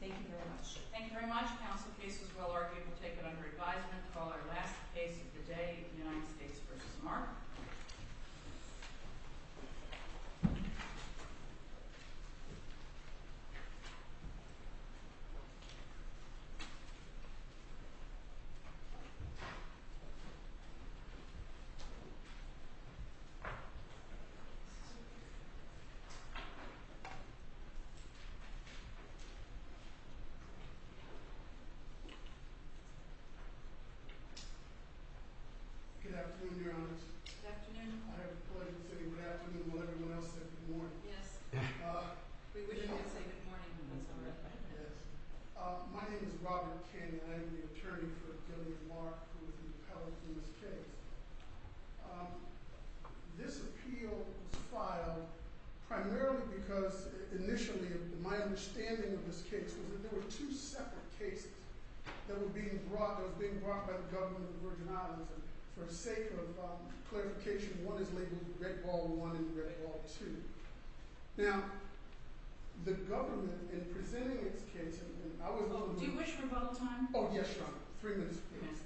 Thank you very much. Thank you very much. The counsel case is well argued. We'll take it under advisement. Call our last case of the day, United States v. Mark. Good afternoon, Your Honor. Good afternoon. I have the pleasure of saying good afternoon while everyone else says good morning. Yes. We wish we could say good morning. That's all right. My name is Robert King and I am the attorney for Delia Mark who is the appellate in this This appeal was filed primarily because initially my understanding of this case was that the case was that there were two separate cases that were being brought. They were being brought by the government of the Virgin Islands. For the sake of clarification, one is labeled Red Ball One and Red Ball Two. Now, the government in presenting its case, and I was— Do you wish rebuttal time? Oh, yes, Your Honor. Three minutes, please.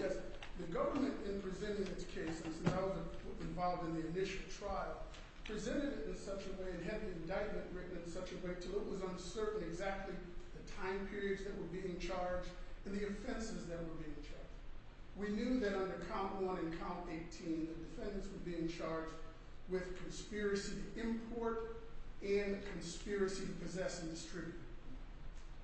Yes. The government in presenting its case, as I was involved in the initial trial, presented it in such a way and had the indictment written in such a way until it was uncertain whether Do you wish rebuttal time? Oh, yes, Your Honor. It was uncertain, exactly the time periods that were being charged and the offenses that were being charged. We knew that under Count One and Count 18, the defendants were being charged with a conspiracy of import and a conspiracy of possessing distribution.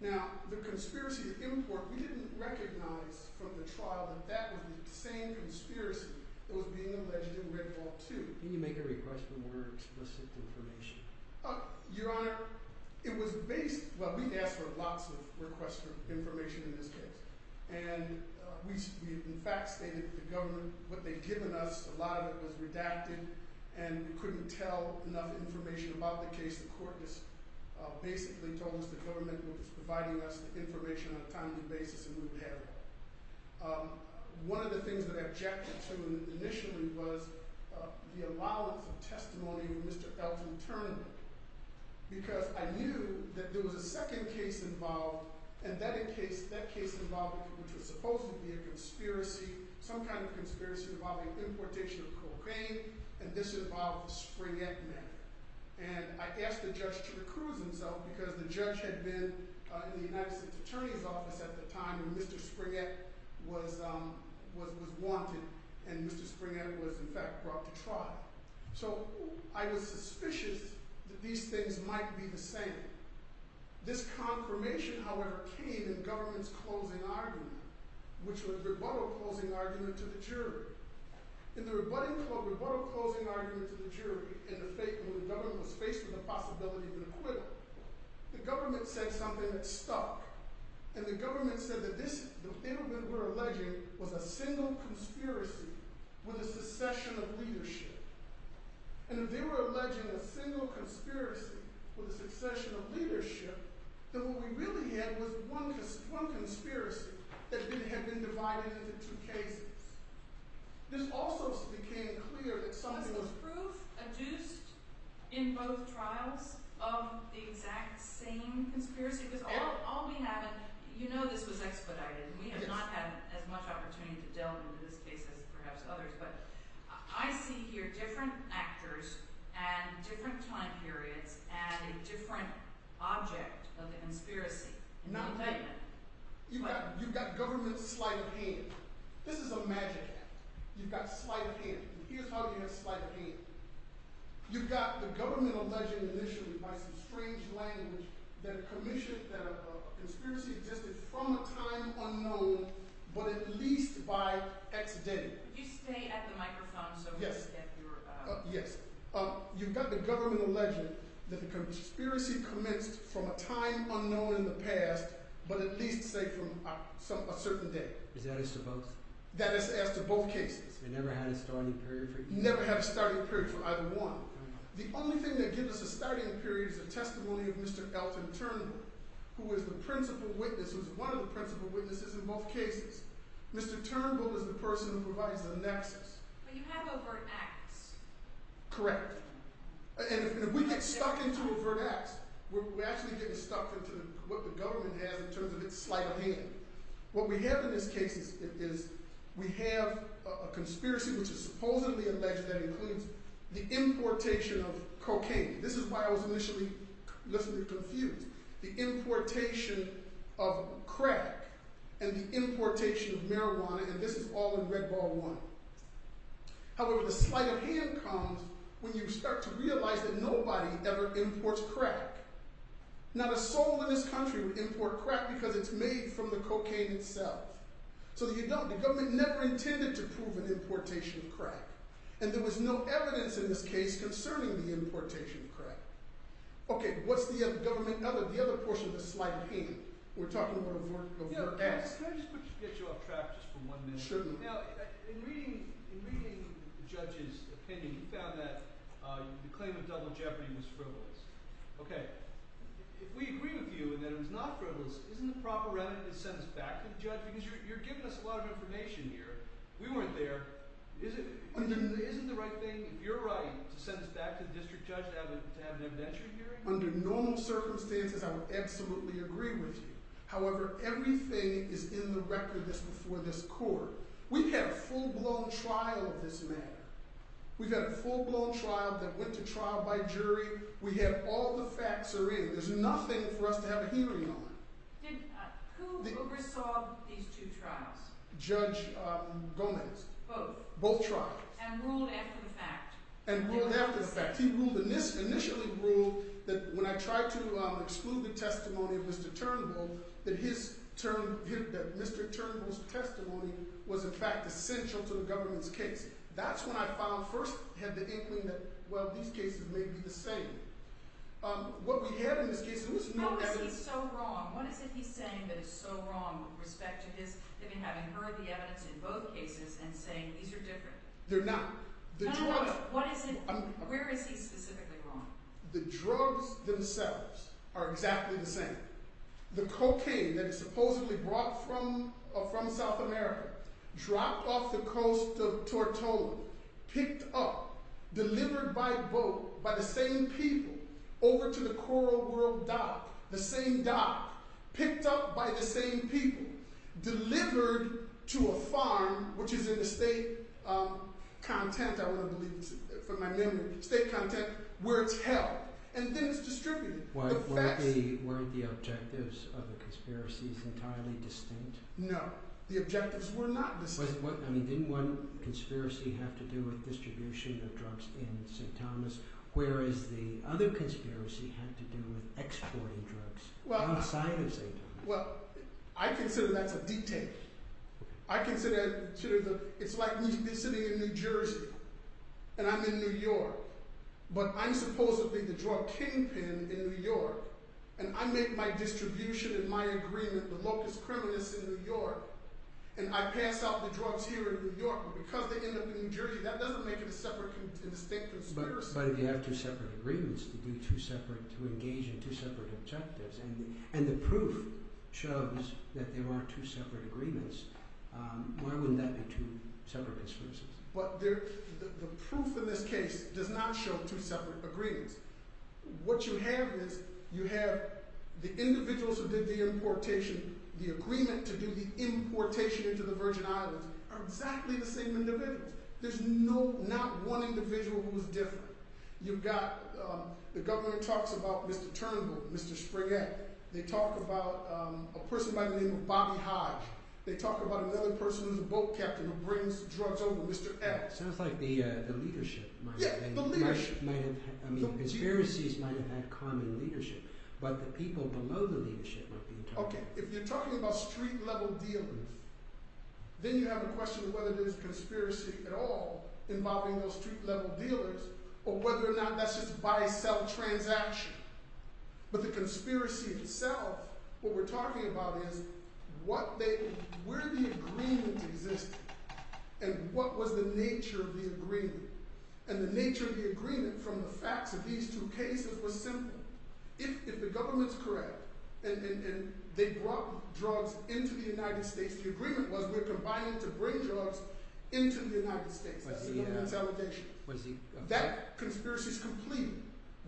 Now, the conspiracy of import, we didn't recognize from the trial that that was the same conspiracy that was being alleged in Red Ball Two. Can you make a request for more explicit information? Your Honor, it was based, well we asked for lots of requests for information in this case. And we in fact stated that the government, what they'd given us, a lot of it was redacted and we couldn't tell enough information about the case. The court just basically told us the government was providing us the information on a timely basis and we would have it. One of the things that I objected to initially was the allowance of testimony with Mr. Elton Turner because I knew that there was a second case involved and that case involved what was supposed to be a conspiracy, some kind of conspiracy involving importation of cocaine and this involved the Springett matter. And I asked the judge to recuse himself because the judge had been in the United States Attorney's Office at the time when Mr. Springett was wanted and Mr. Springett was in fact brought to trial. So I was suspicious that these things might be the same. This confirmation however came in the government's closing argument, which was a rebuttal closing argument to the jury. In the rebuttal closing argument to the jury and the fact that the government was faced with the possibility of an acquittal, the government said something that stuck. And the government said that this, the thing that we're alleging was a single conspiracy with a succession of leadership. And if they were alleging a single conspiracy with a succession of leadership, then what we really had was one conspiracy that didn't have been divided into two cases. This also became clear that something was- Was this proof adduced in both trials of the exact same conspiracy? Because all we have, you know this was expedited and we have not had as much opportunity to I see here different actors and different time periods and a different object of the conspiracy. You've got government's slight of hand. This is a magic act. You've got slight of hand. Here's how you have slight of hand. You've got the government alleging initially by some strange language that a conspiracy existed from a time unknown, but at least by accident. You stay at the microphone so we can get your- Yes. You've got the government alleging that the conspiracy commenced from a time unknown in the past, but at least say from a certain date. Is that as to both? That is as to both cases. You never had a starting period for either? Never had a starting period for either one. The only thing that gives us a starting period is a testimony of Mr. Elton Turnbull, who is the principal witness, who is one of the principal witnesses in both cases. Mr. Turnbull is the person who provides the nexus. But you have overt acts. Correct. And if we get stuck into overt acts, we're actually getting stuck into what the government has in terms of its slight of hand. What we have in this case is we have a conspiracy which is supposedly alleged that includes the importation of cocaine. This is why I was initially less than confused. The importation of crack and the importation of marijuana, and this is all in Red Ball One. However, the slight of hand comes when you start to realize that nobody ever imports crack. Not a soul in this country would import crack because it's made from the cocaine itself. So you don't. The government never intended to prove an importation of crack. And there was no evidence in this case concerning the importation of crack. Okay. What's the government? The other portion of the slight of hand. We're talking about overt acts. Can I just get you off track just for one minute? Sure. Now, in reading the judge's opinion, he found that the claim of double jeopardy was frivolous. Okay. If we agree with you that it was not frivolous, isn't the proper remedy to send us back to the judge? Because you're giving us a lot of information here. We weren't there. Isn't the right thing, if you're right, to send us back to the district judge to have an evidentiary hearing? Under normal circumstances, I would absolutely agree with you. However, everything is in the record that's before this court. We've had a full-blown trial of this matter. We've had a full-blown trial that went to trial by jury. We have all the facts are in. There's nothing for us to have a hearing on. Who oversaw these two trials? Judge Gomez. Both. Both trials. And ruled after the fact. And ruled after the fact. He initially ruled that when I tried to exclude the testimony of Mr. Turnbull, that Mr. Turnbull's testimony was, in fact, essential to the government's case. That's when I first had the inkling that, well, these cases may be the same. What we have in this case, there was no evidence. What was he so wrong? What is it he's saying that is so wrong with respect to his having heard the evidence in both cases and saying these are different? They're not. No, no, no. What is it? Where is he specifically wrong? The drugs themselves are exactly the same. The cocaine that is supposedly brought from South America, dropped off the coast of Tortola, picked up, delivered by boat, by the same people, over to the Coral World dock, the is in the state content, I want to believe, from my memory, state content, where it's held. And then it's distributed. Were the objectives of the conspiracies entirely distinct? No. The objectives were not distinct. I mean, didn't one conspiracy have to do with distribution of drugs in St. Thomas, whereas the other conspiracy had to do with exporting drugs outside of St. Thomas? Well, I consider that to be detailed. I consider that to be, it's like me sitting in New Jersey, and I'm in New York, but I'm supposedly the drug kingpin in New York, and I make my distribution and my agreement, the locus criminus in New York, and I pass out the drugs here in New York, but because they end up in New Jersey, that doesn't make it a separate and distinct conspiracy. But if you have two separate agreements to engage in two separate objectives, and the two separate agreements, why wouldn't that be two separate conspiracies? But there, the proof in this case does not show two separate agreements. What you have is, you have the individuals who did the importation, the agreement to do the importation into the Virgin Islands are exactly the same individuals. There's no, not one individual who's different. You've got, the government talks about Mr. Turnbull, Mr. Spriggan, they talk about a guy, they talk about another person who's a boat captain who brings drugs over, Mr. X. It sounds like the leadership might have had, I mean, conspiracies might have had common leadership, but the people below the leadership. Okay, if you're talking about street-level dealers, then you have a question of whether there's a conspiracy at all involving those street-level dealers, or whether or not that's just a buy-sell transaction. But the conspiracy itself, what we're talking about is, what they, where the agreement existed, and what was the nature of the agreement. And the nature of the agreement, from the facts of these two cases, was simple. If the government's correct, and they brought drugs into the United States, the agreement was, we're combining to bring drugs into the United States. It's a consolidation. That conspiracy is complete.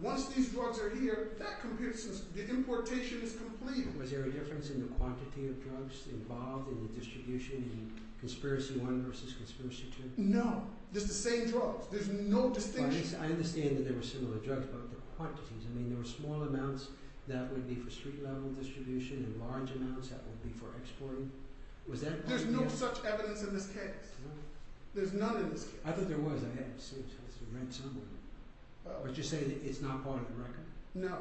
Once these drugs are here, that computes, the importation is complete. Was there a difference in the quantity of drugs involved in the distribution, in conspiracy one versus conspiracy two? No. Just the same drugs. There's no distinction. I understand that there were similar drugs, but the quantities. I mean, there were small amounts that would be for street-level distribution, and large amounts that would be for exporting. There's no such evidence in this case. There's none in this case. I thought there was. I haven't seen it. But you're saying it's not part of the record? No.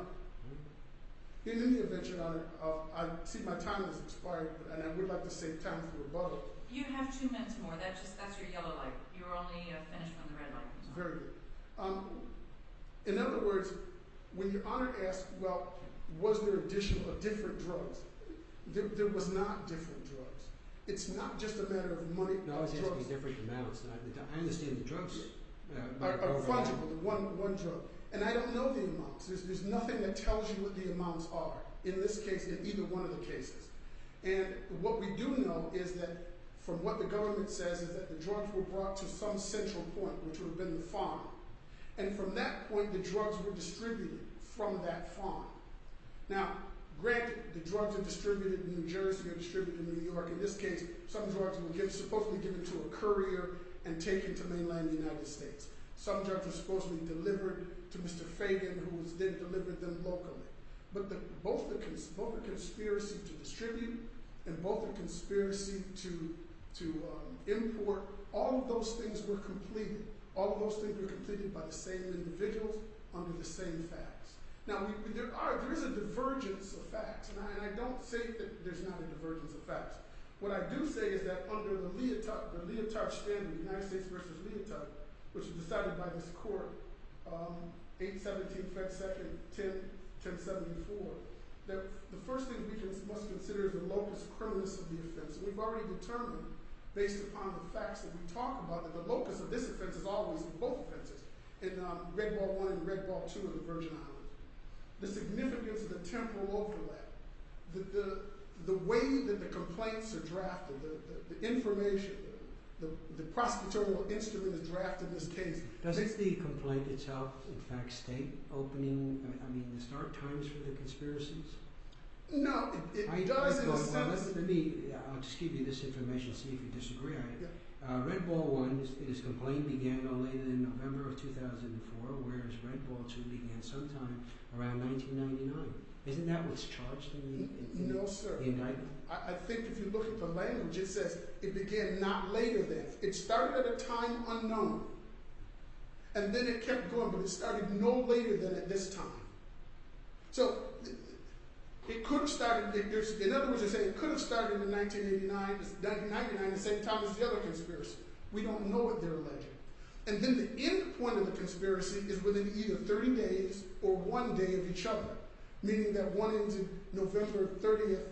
In any event, Your Honor, I see my time has expired, and I would like to save time for rebuttal. You have two minutes more. That's your yellow light. You're only finishing on the red light. Very good. In other words, when Your Honor asked, well, was there additional or different drugs, there was not different drugs. It's not just a matter of money. No, it's different amounts. I understand the drugs. One drug. And I don't know the amounts. There's nothing that tells you what the amounts are, in this case, in either one of the cases. And what we do know is that, from what the government says, is that the drugs were brought to some central point, which would have been the farm. And from that point, the drugs were distributed from that farm. Now, granted, the drugs are distributed in New Jersey or distributed in New York. In this case, some drugs were supposed to be given to a courier and taken to mainland United States. Some drugs were supposed to be delivered to Mr. Fagan, who then delivered them locally. But both the conspiracy to distribute and both the conspiracy to import, all of those things were completed. All of those things were completed by the same individuals under the same facts. Now, there is a divergence of facts, and I don't say that there's not a divergence of facts. What I do say is that, under the leotard standard, United States versus leotard, which was decided by this court, 8-17-10-74, that the first thing we must consider is the locus criminus of the offense. And we've already determined, based upon the facts that we talk about, that the locus of this offense is always in both offenses, in Red Ball One and Red Ball Two on the Virgin Island. The significance of the temporal overlap, the way that the complaints are drafted, the information, the prosecutorial instrument is drafted in this case. Does the complaint itself, in fact, state opening, I mean, the start times for the conspiracies? No, it does in a sense. Let me, I'll just give you this information, see if you disagree on it. Red Ball One's complaint began no later than November of 2004, whereas Red Ball Two began sometime around 1999. Isn't that what's charged in the indictment? No, sir. I think if you look at the language, it says it began not later than. It started at a time unknown, and then it kept going, but it started no later than at this time. So, it could have started, in other words, it could have started in 1999 at the same time as the other conspiracy. We don't know what they're alleging. And then the end point of the conspiracy is within either 30 days or one day of each other, meaning that one ended November 30th,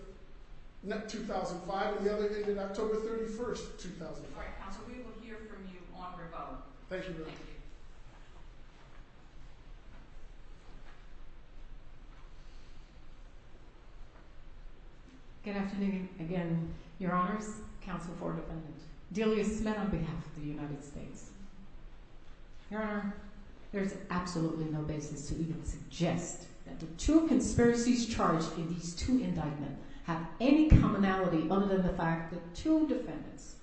2005, and the other ended October 31st, 2005. All right, counsel, we will hear from you on revote. Thank you very much. Thank you. Good afternoon again, your honors, counsel for the defendant, Delia Smith on behalf of the United States. Your honor, there's absolutely no basis to even suggest that the two conspiracies charged in these two indictments have any commonality other than the fact that two defendants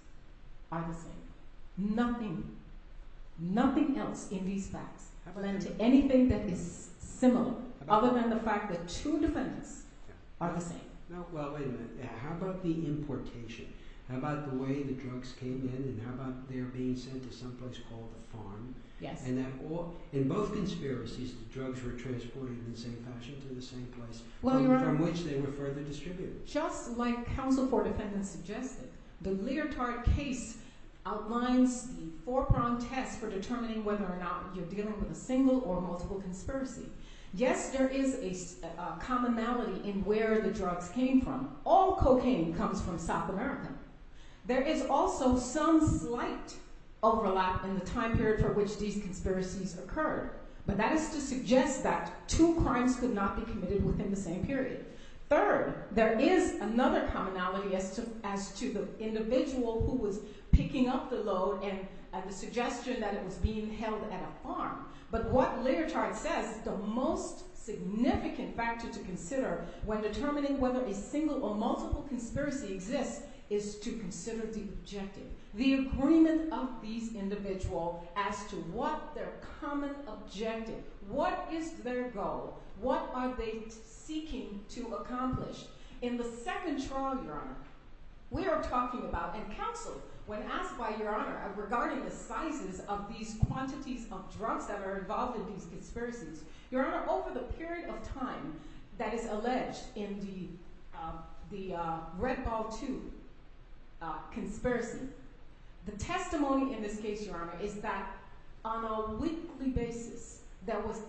are the same. Nothing, nothing else in these facts have led to anything that is similar other than the fact that two defendants are the same. Well, wait a minute. How about the importation? How about the way the drugs came in and how about they're being sent to someplace called the farm? Yes. And in both conspiracies, the drugs were transported in the same fashion to the same place from which they were further distributed. Just like counsel for defendant suggested, the Leotard case outlines the four-pronged test for determining whether or not you're dealing with a single or multiple conspiracy. Yes, there is a commonality in where the drugs came from. All cocaine comes from South America. There is also some slight overlap in the time period for which these conspiracies occurred. But that is to suggest that two crimes could not be committed within the same period. Third, there is another commonality as to the individual who was picking up the load and the suggestion that it was being held at a farm. But what Leotard says, the most significant factor to consider when determining whether a single or multiple conspiracy exists is to consider the objective, the agreement of these individuals as to what their common objective, what is their goal, what are they seeking to accomplish. In the second trial, Your Honor, we are talking about, and counsel, when asked by Your Honor regarding the sizes of these quantities of drugs that are involved in these conspiracies, Your Honor, over the period of time that is alleged in the Red Ball 2 conspiracy, the testimony in this case, Your Honor, is that on a weekly basis, there was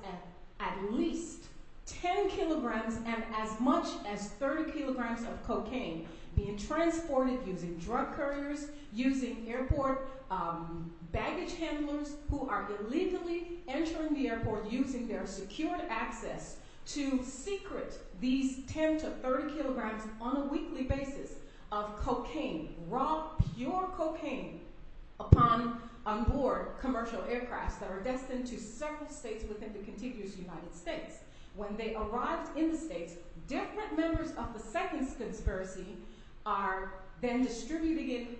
at least 10 kilograms and as much as 30 kilograms of cocaine being transported using drug couriers, using airport baggage handlers who are illegally entering the airport using their secured access to secret these 10 to 30 kilograms on a weekly basis of cocaine, raw, pure cocaine, upon onboard commercial aircrafts that are destined to several states within the contiguous United States. When they arrived in the states, different members of the second conspiracy are then distributing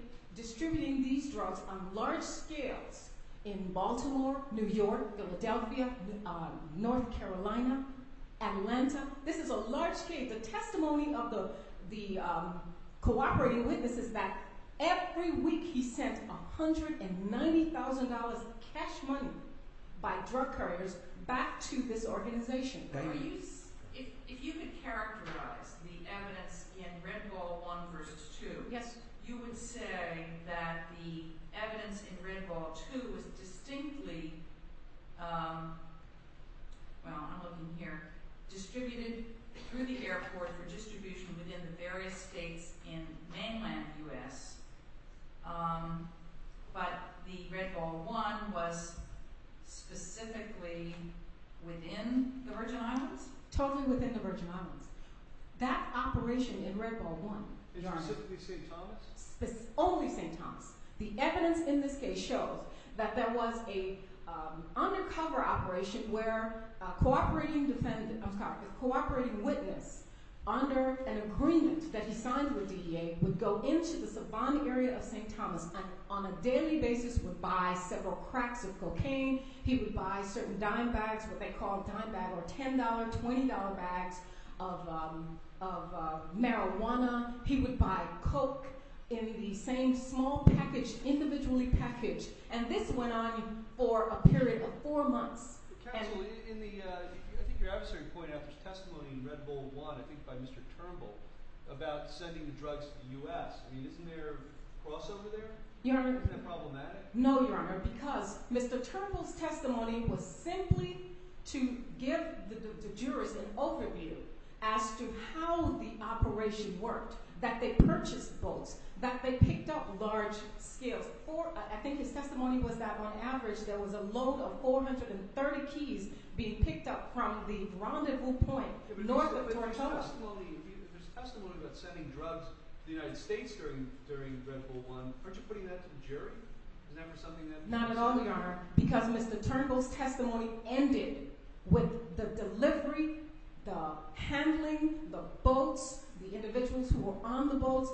these drugs on large scales in Baltimore, New York, Philadelphia, North Carolina, Atlanta. This is a large scale. The testimony of the cooperating witness is that every week he sent $190,000 cash money by drug couriers back to this organization. If you could characterize the evidence in Red Ball 1 versus 2, you would say that the evidence in Red Ball 2 was distinctly, well, I'm looking here, distributed through the airport for distribution within the various states in mainland US, but the Red Ball 1 was specifically within the Virgin Islands? Totally within the Virgin Islands. That operation in Red Ball 1. Specifically St. Thomas? Only St. Thomas. The evidence in this case shows that there was an undercover operation where a cooperating witness under an agreement that he signed with DEA would go into the Savon area of St. Thomas, he would buy certain packs of cocaine, he would buy certain dime bags, what they call dime bag or $10, $20 bags of marijuana, he would buy coke in the same small package, individually packaged, and this went on for a period of four months. Counsel, I think your adversary pointed out the testimony in Red Ball 1, I think by Mr. Turnbull, about sending the drugs to the US. Isn't there a crossover there? Isn't that problematic? No, Your Honor, because Mr. Turnbull's testimony was simply to give the jurors an overview as to how the operation worked, that they purchased boats, that they picked up large scales. I think his testimony was that on average there was a load of 430 keys being picked up from the rendezvous point north of Tortuga. But his testimony about sending drugs to the United States during Red Ball 1, aren't you giving that to the jury? Not at all, Your Honor, because Mr. Turnbull's testimony ended with the delivery, the handling, the boats, the individuals who were on the boats,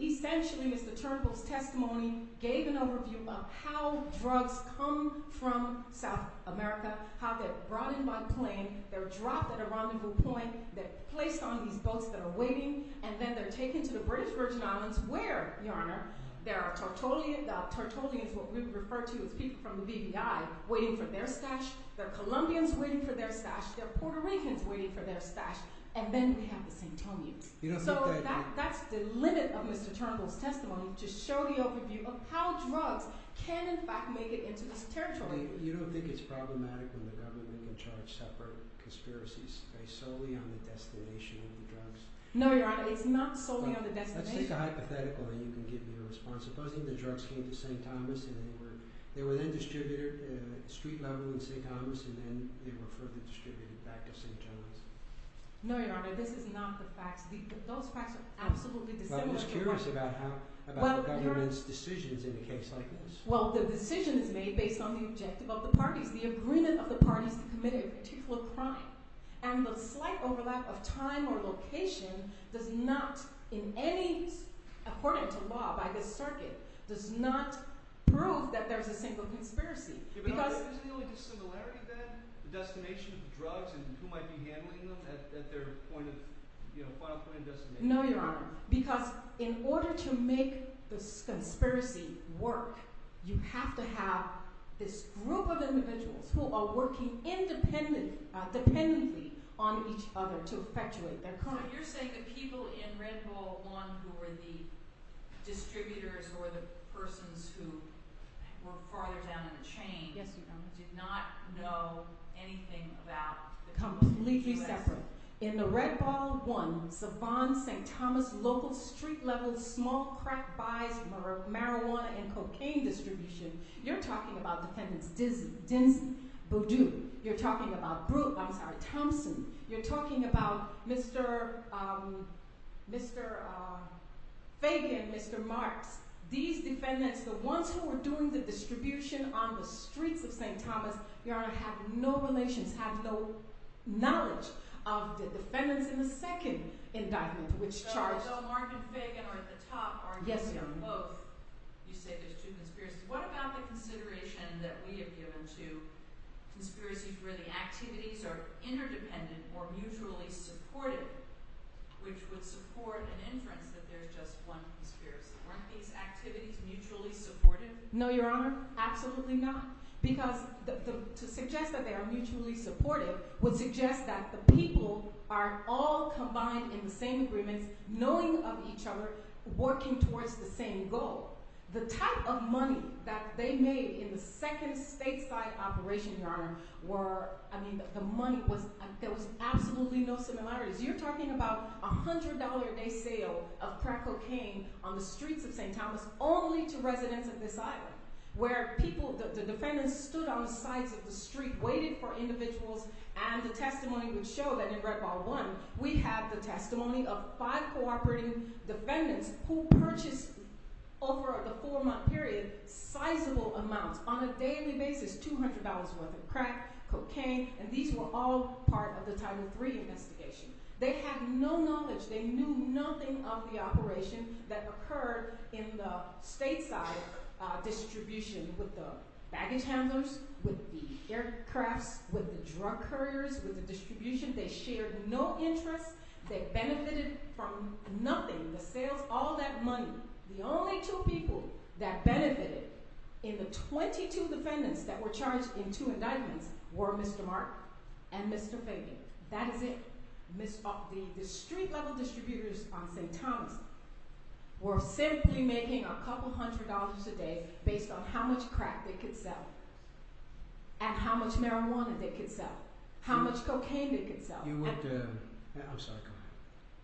essentially Mr. Turnbull's testimony gave an overview of how drugs come from South America, how they're brought in by plane, they're dropped at a rendezvous point, they're placed on these boats that are waiting, and then they're taken to the British Virgin Islands where, Your Honor, there are Tertullians, what we would refer to as people from the BVI, waiting for their stash, there are Colombians waiting for their stash, there are Puerto Ricans waiting for their stash, and then we have the Santonians. You don't think that... So that's the limit of Mr. Turnbull's testimony, to show the overview of how drugs can in fact make it into this territory. You don't think it's problematic when the government can charge separate conspiracies based solely on the destination of the drugs? No, Your Honor, it's not solely on the destination. Let's take a hypothetical and you can give me a response. Supposing the drugs came to St. Thomas and they were then distributed at street level in St. Thomas and then they were further distributed back to St. Thomas. No, Your Honor, this is not the facts. Those facts are absolutely dissimilar to what... Well, I'm just curious about the government's decisions in a case like this. Well, the decision is made based on the objective of the parties, the agreement of the parties to commit a particular crime. And the slight overlap of time or location does not, according to law by this circuit, does not prove that there's a single conspiracy. But isn't the only dissimilarity then the destination of the drugs and who might be handling them at their final point of destination? No, Your Honor, because in order to make this conspiracy work, you have to have this group of individuals who are working independently, not dependently, on each other to effectuate their crime. So you're saying the people in Red Ball One who were the distributors or the persons who were farther down in the chain... Yes, Your Honor. ...did not know anything about... Completely separate. In the Red Ball One, Savant, St. Thomas, local street level, small crack buys, marijuana and cocaine distribution, you're talking about defendants Dinsey, Boudou, you're talking about Thompson, you're talking about Mr. Fagan, Mr. Marks. These defendants, the ones who were doing the distribution on the streets of St. Thomas, Your Honor, have no relations, have no knowledge of the defendants in the second indictment which charged... So Mark and Fagan are at the top, aren't they? Yes, Your Honor. And when you say they're both, you say there's two conspiracies, what about the consideration that we have given to conspiracies where the activities are interdependent or mutually supportive, which would support an inference that there's just one conspiracy? Weren't these activities mutually supportive? No, Your Honor, absolutely not. Because to suggest that they are mutually supportive would suggest that the people are all combined in the same agreements, knowing of each other, working towards the same goal. The type of money that they made in the second stateside operation, Your Honor, were, I mean, the money was, there was absolutely no similarities. You're talking about $100 a day sale of crack cocaine on the streets of St. Thomas only to residents of this island, where people, the defendants stood on the sides of the street, waited for individuals, and the testimony would show that in Red Ball One, we have the testimony of five cooperating defendants who purchased, over the four-month period, sizable amounts, on a daily basis, $200 worth of crack, cocaine, and these were all part of the Title III investigation. They had no knowledge, they knew nothing of the operation that occurred in the stateside distribution with the baggage handlers, with the aircrafts, with the drug couriers, with the distribution, they shared no interest, they benefited from nothing, the sales, all that money. The only two people that benefited in the 22 defendants that were charged in two indictments were Mr. Mark and Mr. Fabian. That is it. The street-level distributors on St. Thomas were simply making a couple hundred dollars a day based on how much crack they could sell, and how much marijuana they could sell, how much cocaine they could sell,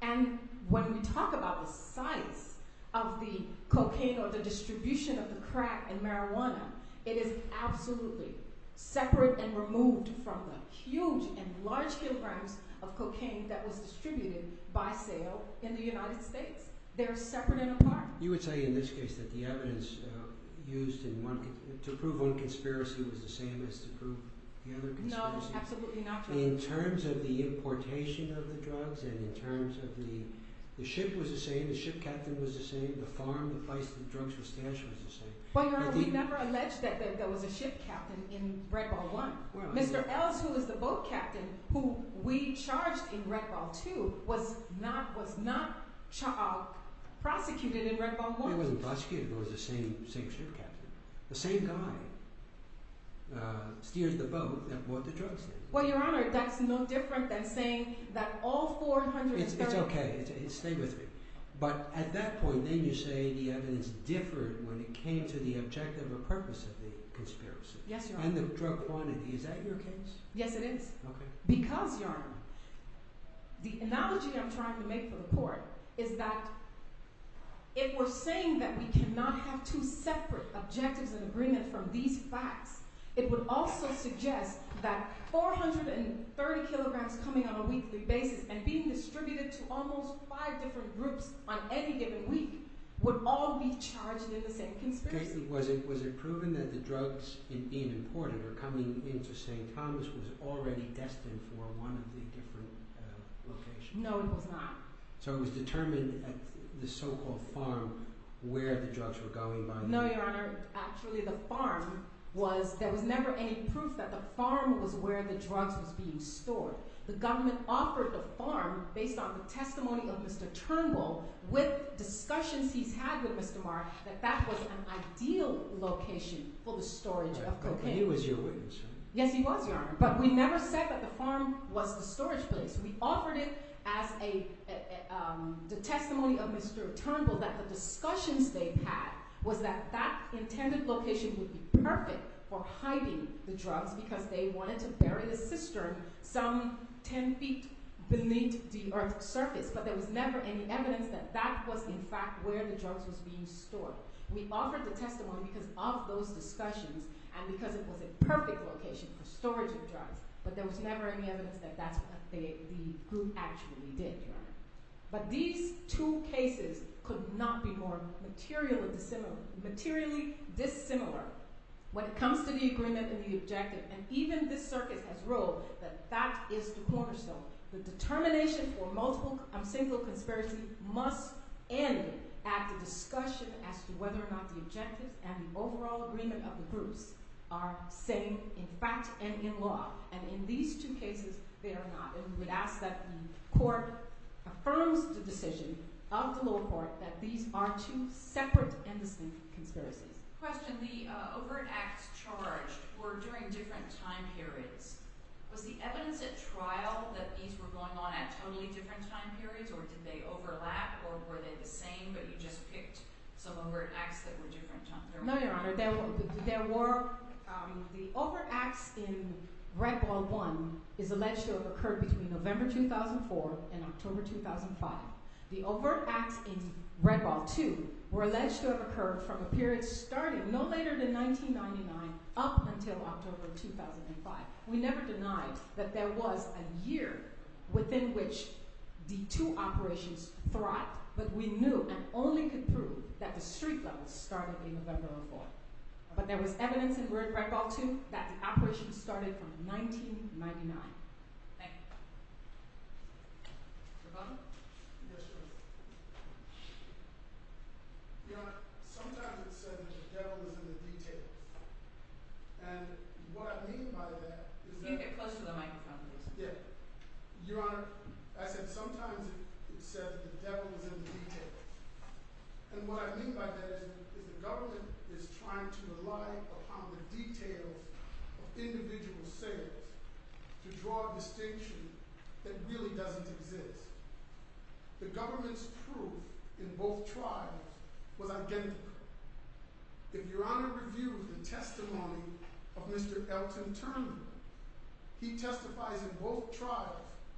and when we talk about the size of the cocaine or the distribution of the crack and marijuana, it is absolutely separate and removed from the market. There are huge and large kilograms of cocaine that was distributed by sale in the United States. They are separate and apart. You would say in this case that the evidence used to prove one conspiracy was the same as to prove the other conspiracy? No, absolutely not. In terms of the importation of the drugs and in terms of the ship was the same, the ship captain was the same, the farm, the place the drugs were stashed was the same? Well, Your Honor, we never alleged that there was a ship captain in Red Ball One. Mr. Ells, who was the boat captain, who we charged in Red Ball Two, was not prosecuted in Red Ball One. He wasn't prosecuted. It was the same ship captain. The same guy steered the boat and bought the drugs. Well, Your Honor, that's no different than saying that all four hundred... It's okay. Stay with me. But at that point, then you say the evidence differed when it came to the objective or purpose of the conspiracy. Yes, Your Honor. And the drug quantity. Is that your case? Yes, it is. Okay. Because, Your Honor, the analogy I'm trying to make for the court is that if we're saying that we cannot have two separate objectives and agreements from these facts, it would also suggest that four hundred and thirty kilograms coming on a weekly basis and being distributed to almost five different groups on any given week would all be charged in the same conspiracy. Was it proven that the drugs, in being imported or coming into St. Thomas, was already destined for one of the different locations? No, it was not. So it was determined at the so-called farm where the drugs were going by the... No, Your Honor. Actually, the farm was... There was never any proof that the farm was where the drugs was being stored. The government offered the farm, based on the testimony of Mr. Turnbull, with discussions he's had with Mr. Marr, that that was an ideal location for the storage of cocaine. He was your witness. Yes, he was, Your Honor. But we never said that the farm was the storage place. We offered it as a testimony of Mr. Turnbull that the discussions they had was that that intended location would be perfect for hiding the drugs because they wanted to bury the cistern some ten feet beneath the earth's surface. But there was never any evidence that that was, in fact, where the drugs was being stored. We offered the testimony because of those discussions and because it was a perfect location for storage of drugs, but there was never any evidence that that's what the group actually did, Your Honor. But these two cases could not be more materially dissimilar when it comes to the agreement and the objective. And even this circuit has ruled that that is the cornerstone. The determination for single conspiracy must end at the discussion as to whether or not the objectives and the overall agreement of the groups are same in fact and in law. And in these two cases, they are not. And we would ask that the court affirms the decision of the lower court that these are two separate and distinct conspiracies. Question. The overt acts charged were during different time periods. Was the evidence at trial that these were going on at totally different time periods or did they overlap or were they the same but you just picked some overt acts that were different times? No, Your Honor. The overt acts in Red Ball 1 is alleged to have occurred between November 2004 and October 2005. The overt acts in Red Ball 2 were alleged to have occurred from a period starting no later than 1999 up until October 2005. We never denied that there was a year within which the two operations thrived, but we knew and only could prove that the street level started in November 2004. But there was evidence in Red Ball 2 that the operation started from 1999. Thank you. Your Honor, sometimes it's said that the devil is in the detail. And what I mean by that is the government is trying to rely upon the details of individual sales to draw a distinction that really doesn't exist. The government's proof in both trials was identical. If you're on a review of the testimony of Mr. Elton Turner, he testifies in both trials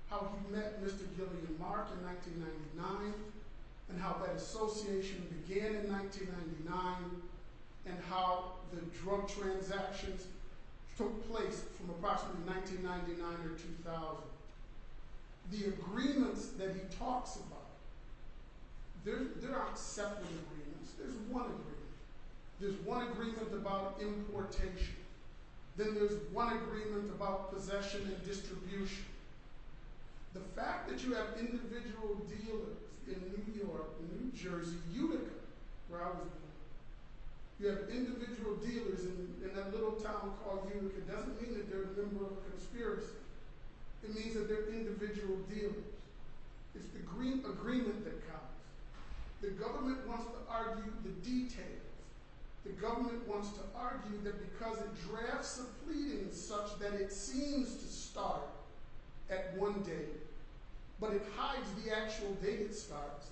how he met Mr. Gillian Mark in 1999 and how that association began in 1999 and how the drug transactions took place from approximately 1999 or 2000. The agreements that he talks about, they're not separate agreements. There's one agreement. There's one agreement about importation. Then there's one agreement about possession and distribution. The fact that you have individual dealers in New York, New Jersey, Unica, where I was born, you have individual dealers in that little town called Unica. It doesn't mean that they're a member of a conspiracy. It means that they're individual dealers. It's the agreement that counts. The government wants to argue the details. The government wants to argue that because it drafts a pleading such that it seems to start at one date, but it hides the actual date it starts,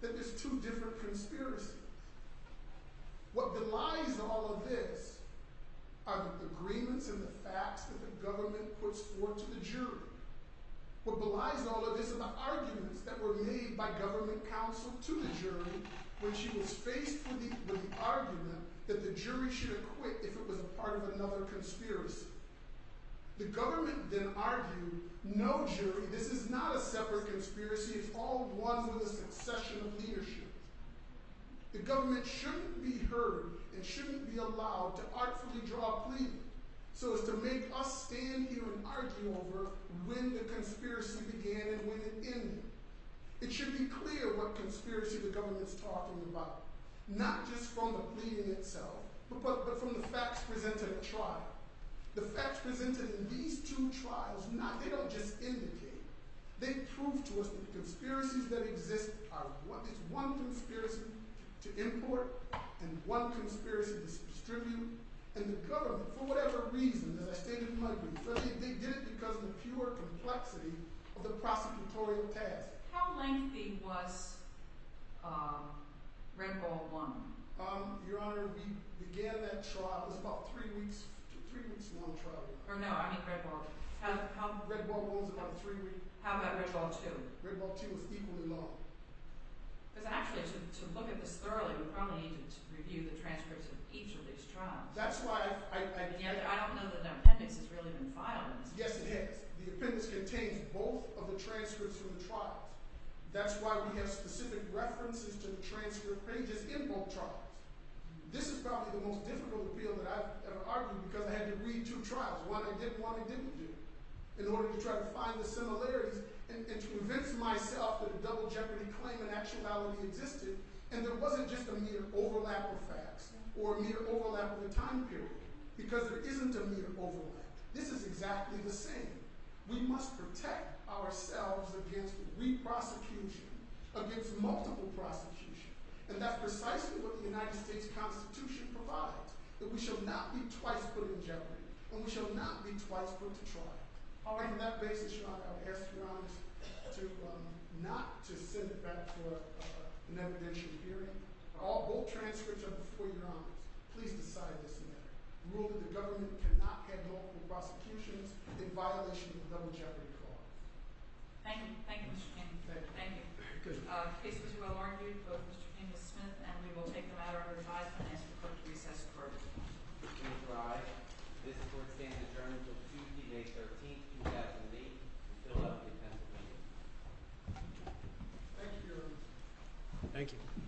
that there's two different conspiracies. What belies all of this are the agreements and the facts that the government puts forth to the jury. What belies all of this are the arguments that were made by government counsel to the jury when she was faced with the argument that the jury should acquit if it was a part of another conspiracy. The government then argued, no jury, this is not a separate conspiracy. It's all one with a succession of leadership. The government shouldn't be heard and shouldn't be allowed to artfully draw a pleading so as to make us stand here and argue over when the conspiracy began and when it ended. It should be clear what conspiracy the government's talking about, not just from the pleading itself, but from the facts presented at trial. The facts presented in these two trials, they don't just indicate. They prove to us that the conspiracies that exist are one. It's one conspiracy to import and one conspiracy to distribute, and the government, for whatever reason, as I stated before, they did it because of the pure complexity of the prosecutorial task. How lengthy was Red Ball One? Your Honor, we began that trial, it was about three weeks, three weeks long trial. No, I mean Red Ball. Red Ball One was about three weeks. How about Red Ball Two? Red Ball Two was equally long. Because actually, to look at this thoroughly, we probably need to review the transcripts of each of these trials. I don't know that an appendix has really been filed. Yes, it has. The appendix contains both of the transcripts from the trials. That's why we have specific references to the transcript pages in both trials. This is probably the most difficult appeal that I've ever argued because I had to read two trials, one I did and one I didn't do, in order to try to find the similarities and to convince myself that a double jeopardy claim in actuality existed and there wasn't just a mere overlap of facts or a mere overlap of a time period because there isn't a mere overlap. This is exactly the same. We must protect ourselves against re-prosecution, against multiple prosecution, and that's precisely what the United States Constitution provides, that we shall not be twice put in the trial. On that basis, Your Honor, I would ask Your Honor not to send it back for an evidential hearing. All both transcripts are before Your Honor. Please decide this matter. Rule that the government cannot have multiple prosecutions in violation of the double jeopardy clause. Thank you. Thank you, Mr. King. Thank you. The case was well argued, but Mr. King has spent, and we will take the matter under Thank you, Your Honor. Thank you.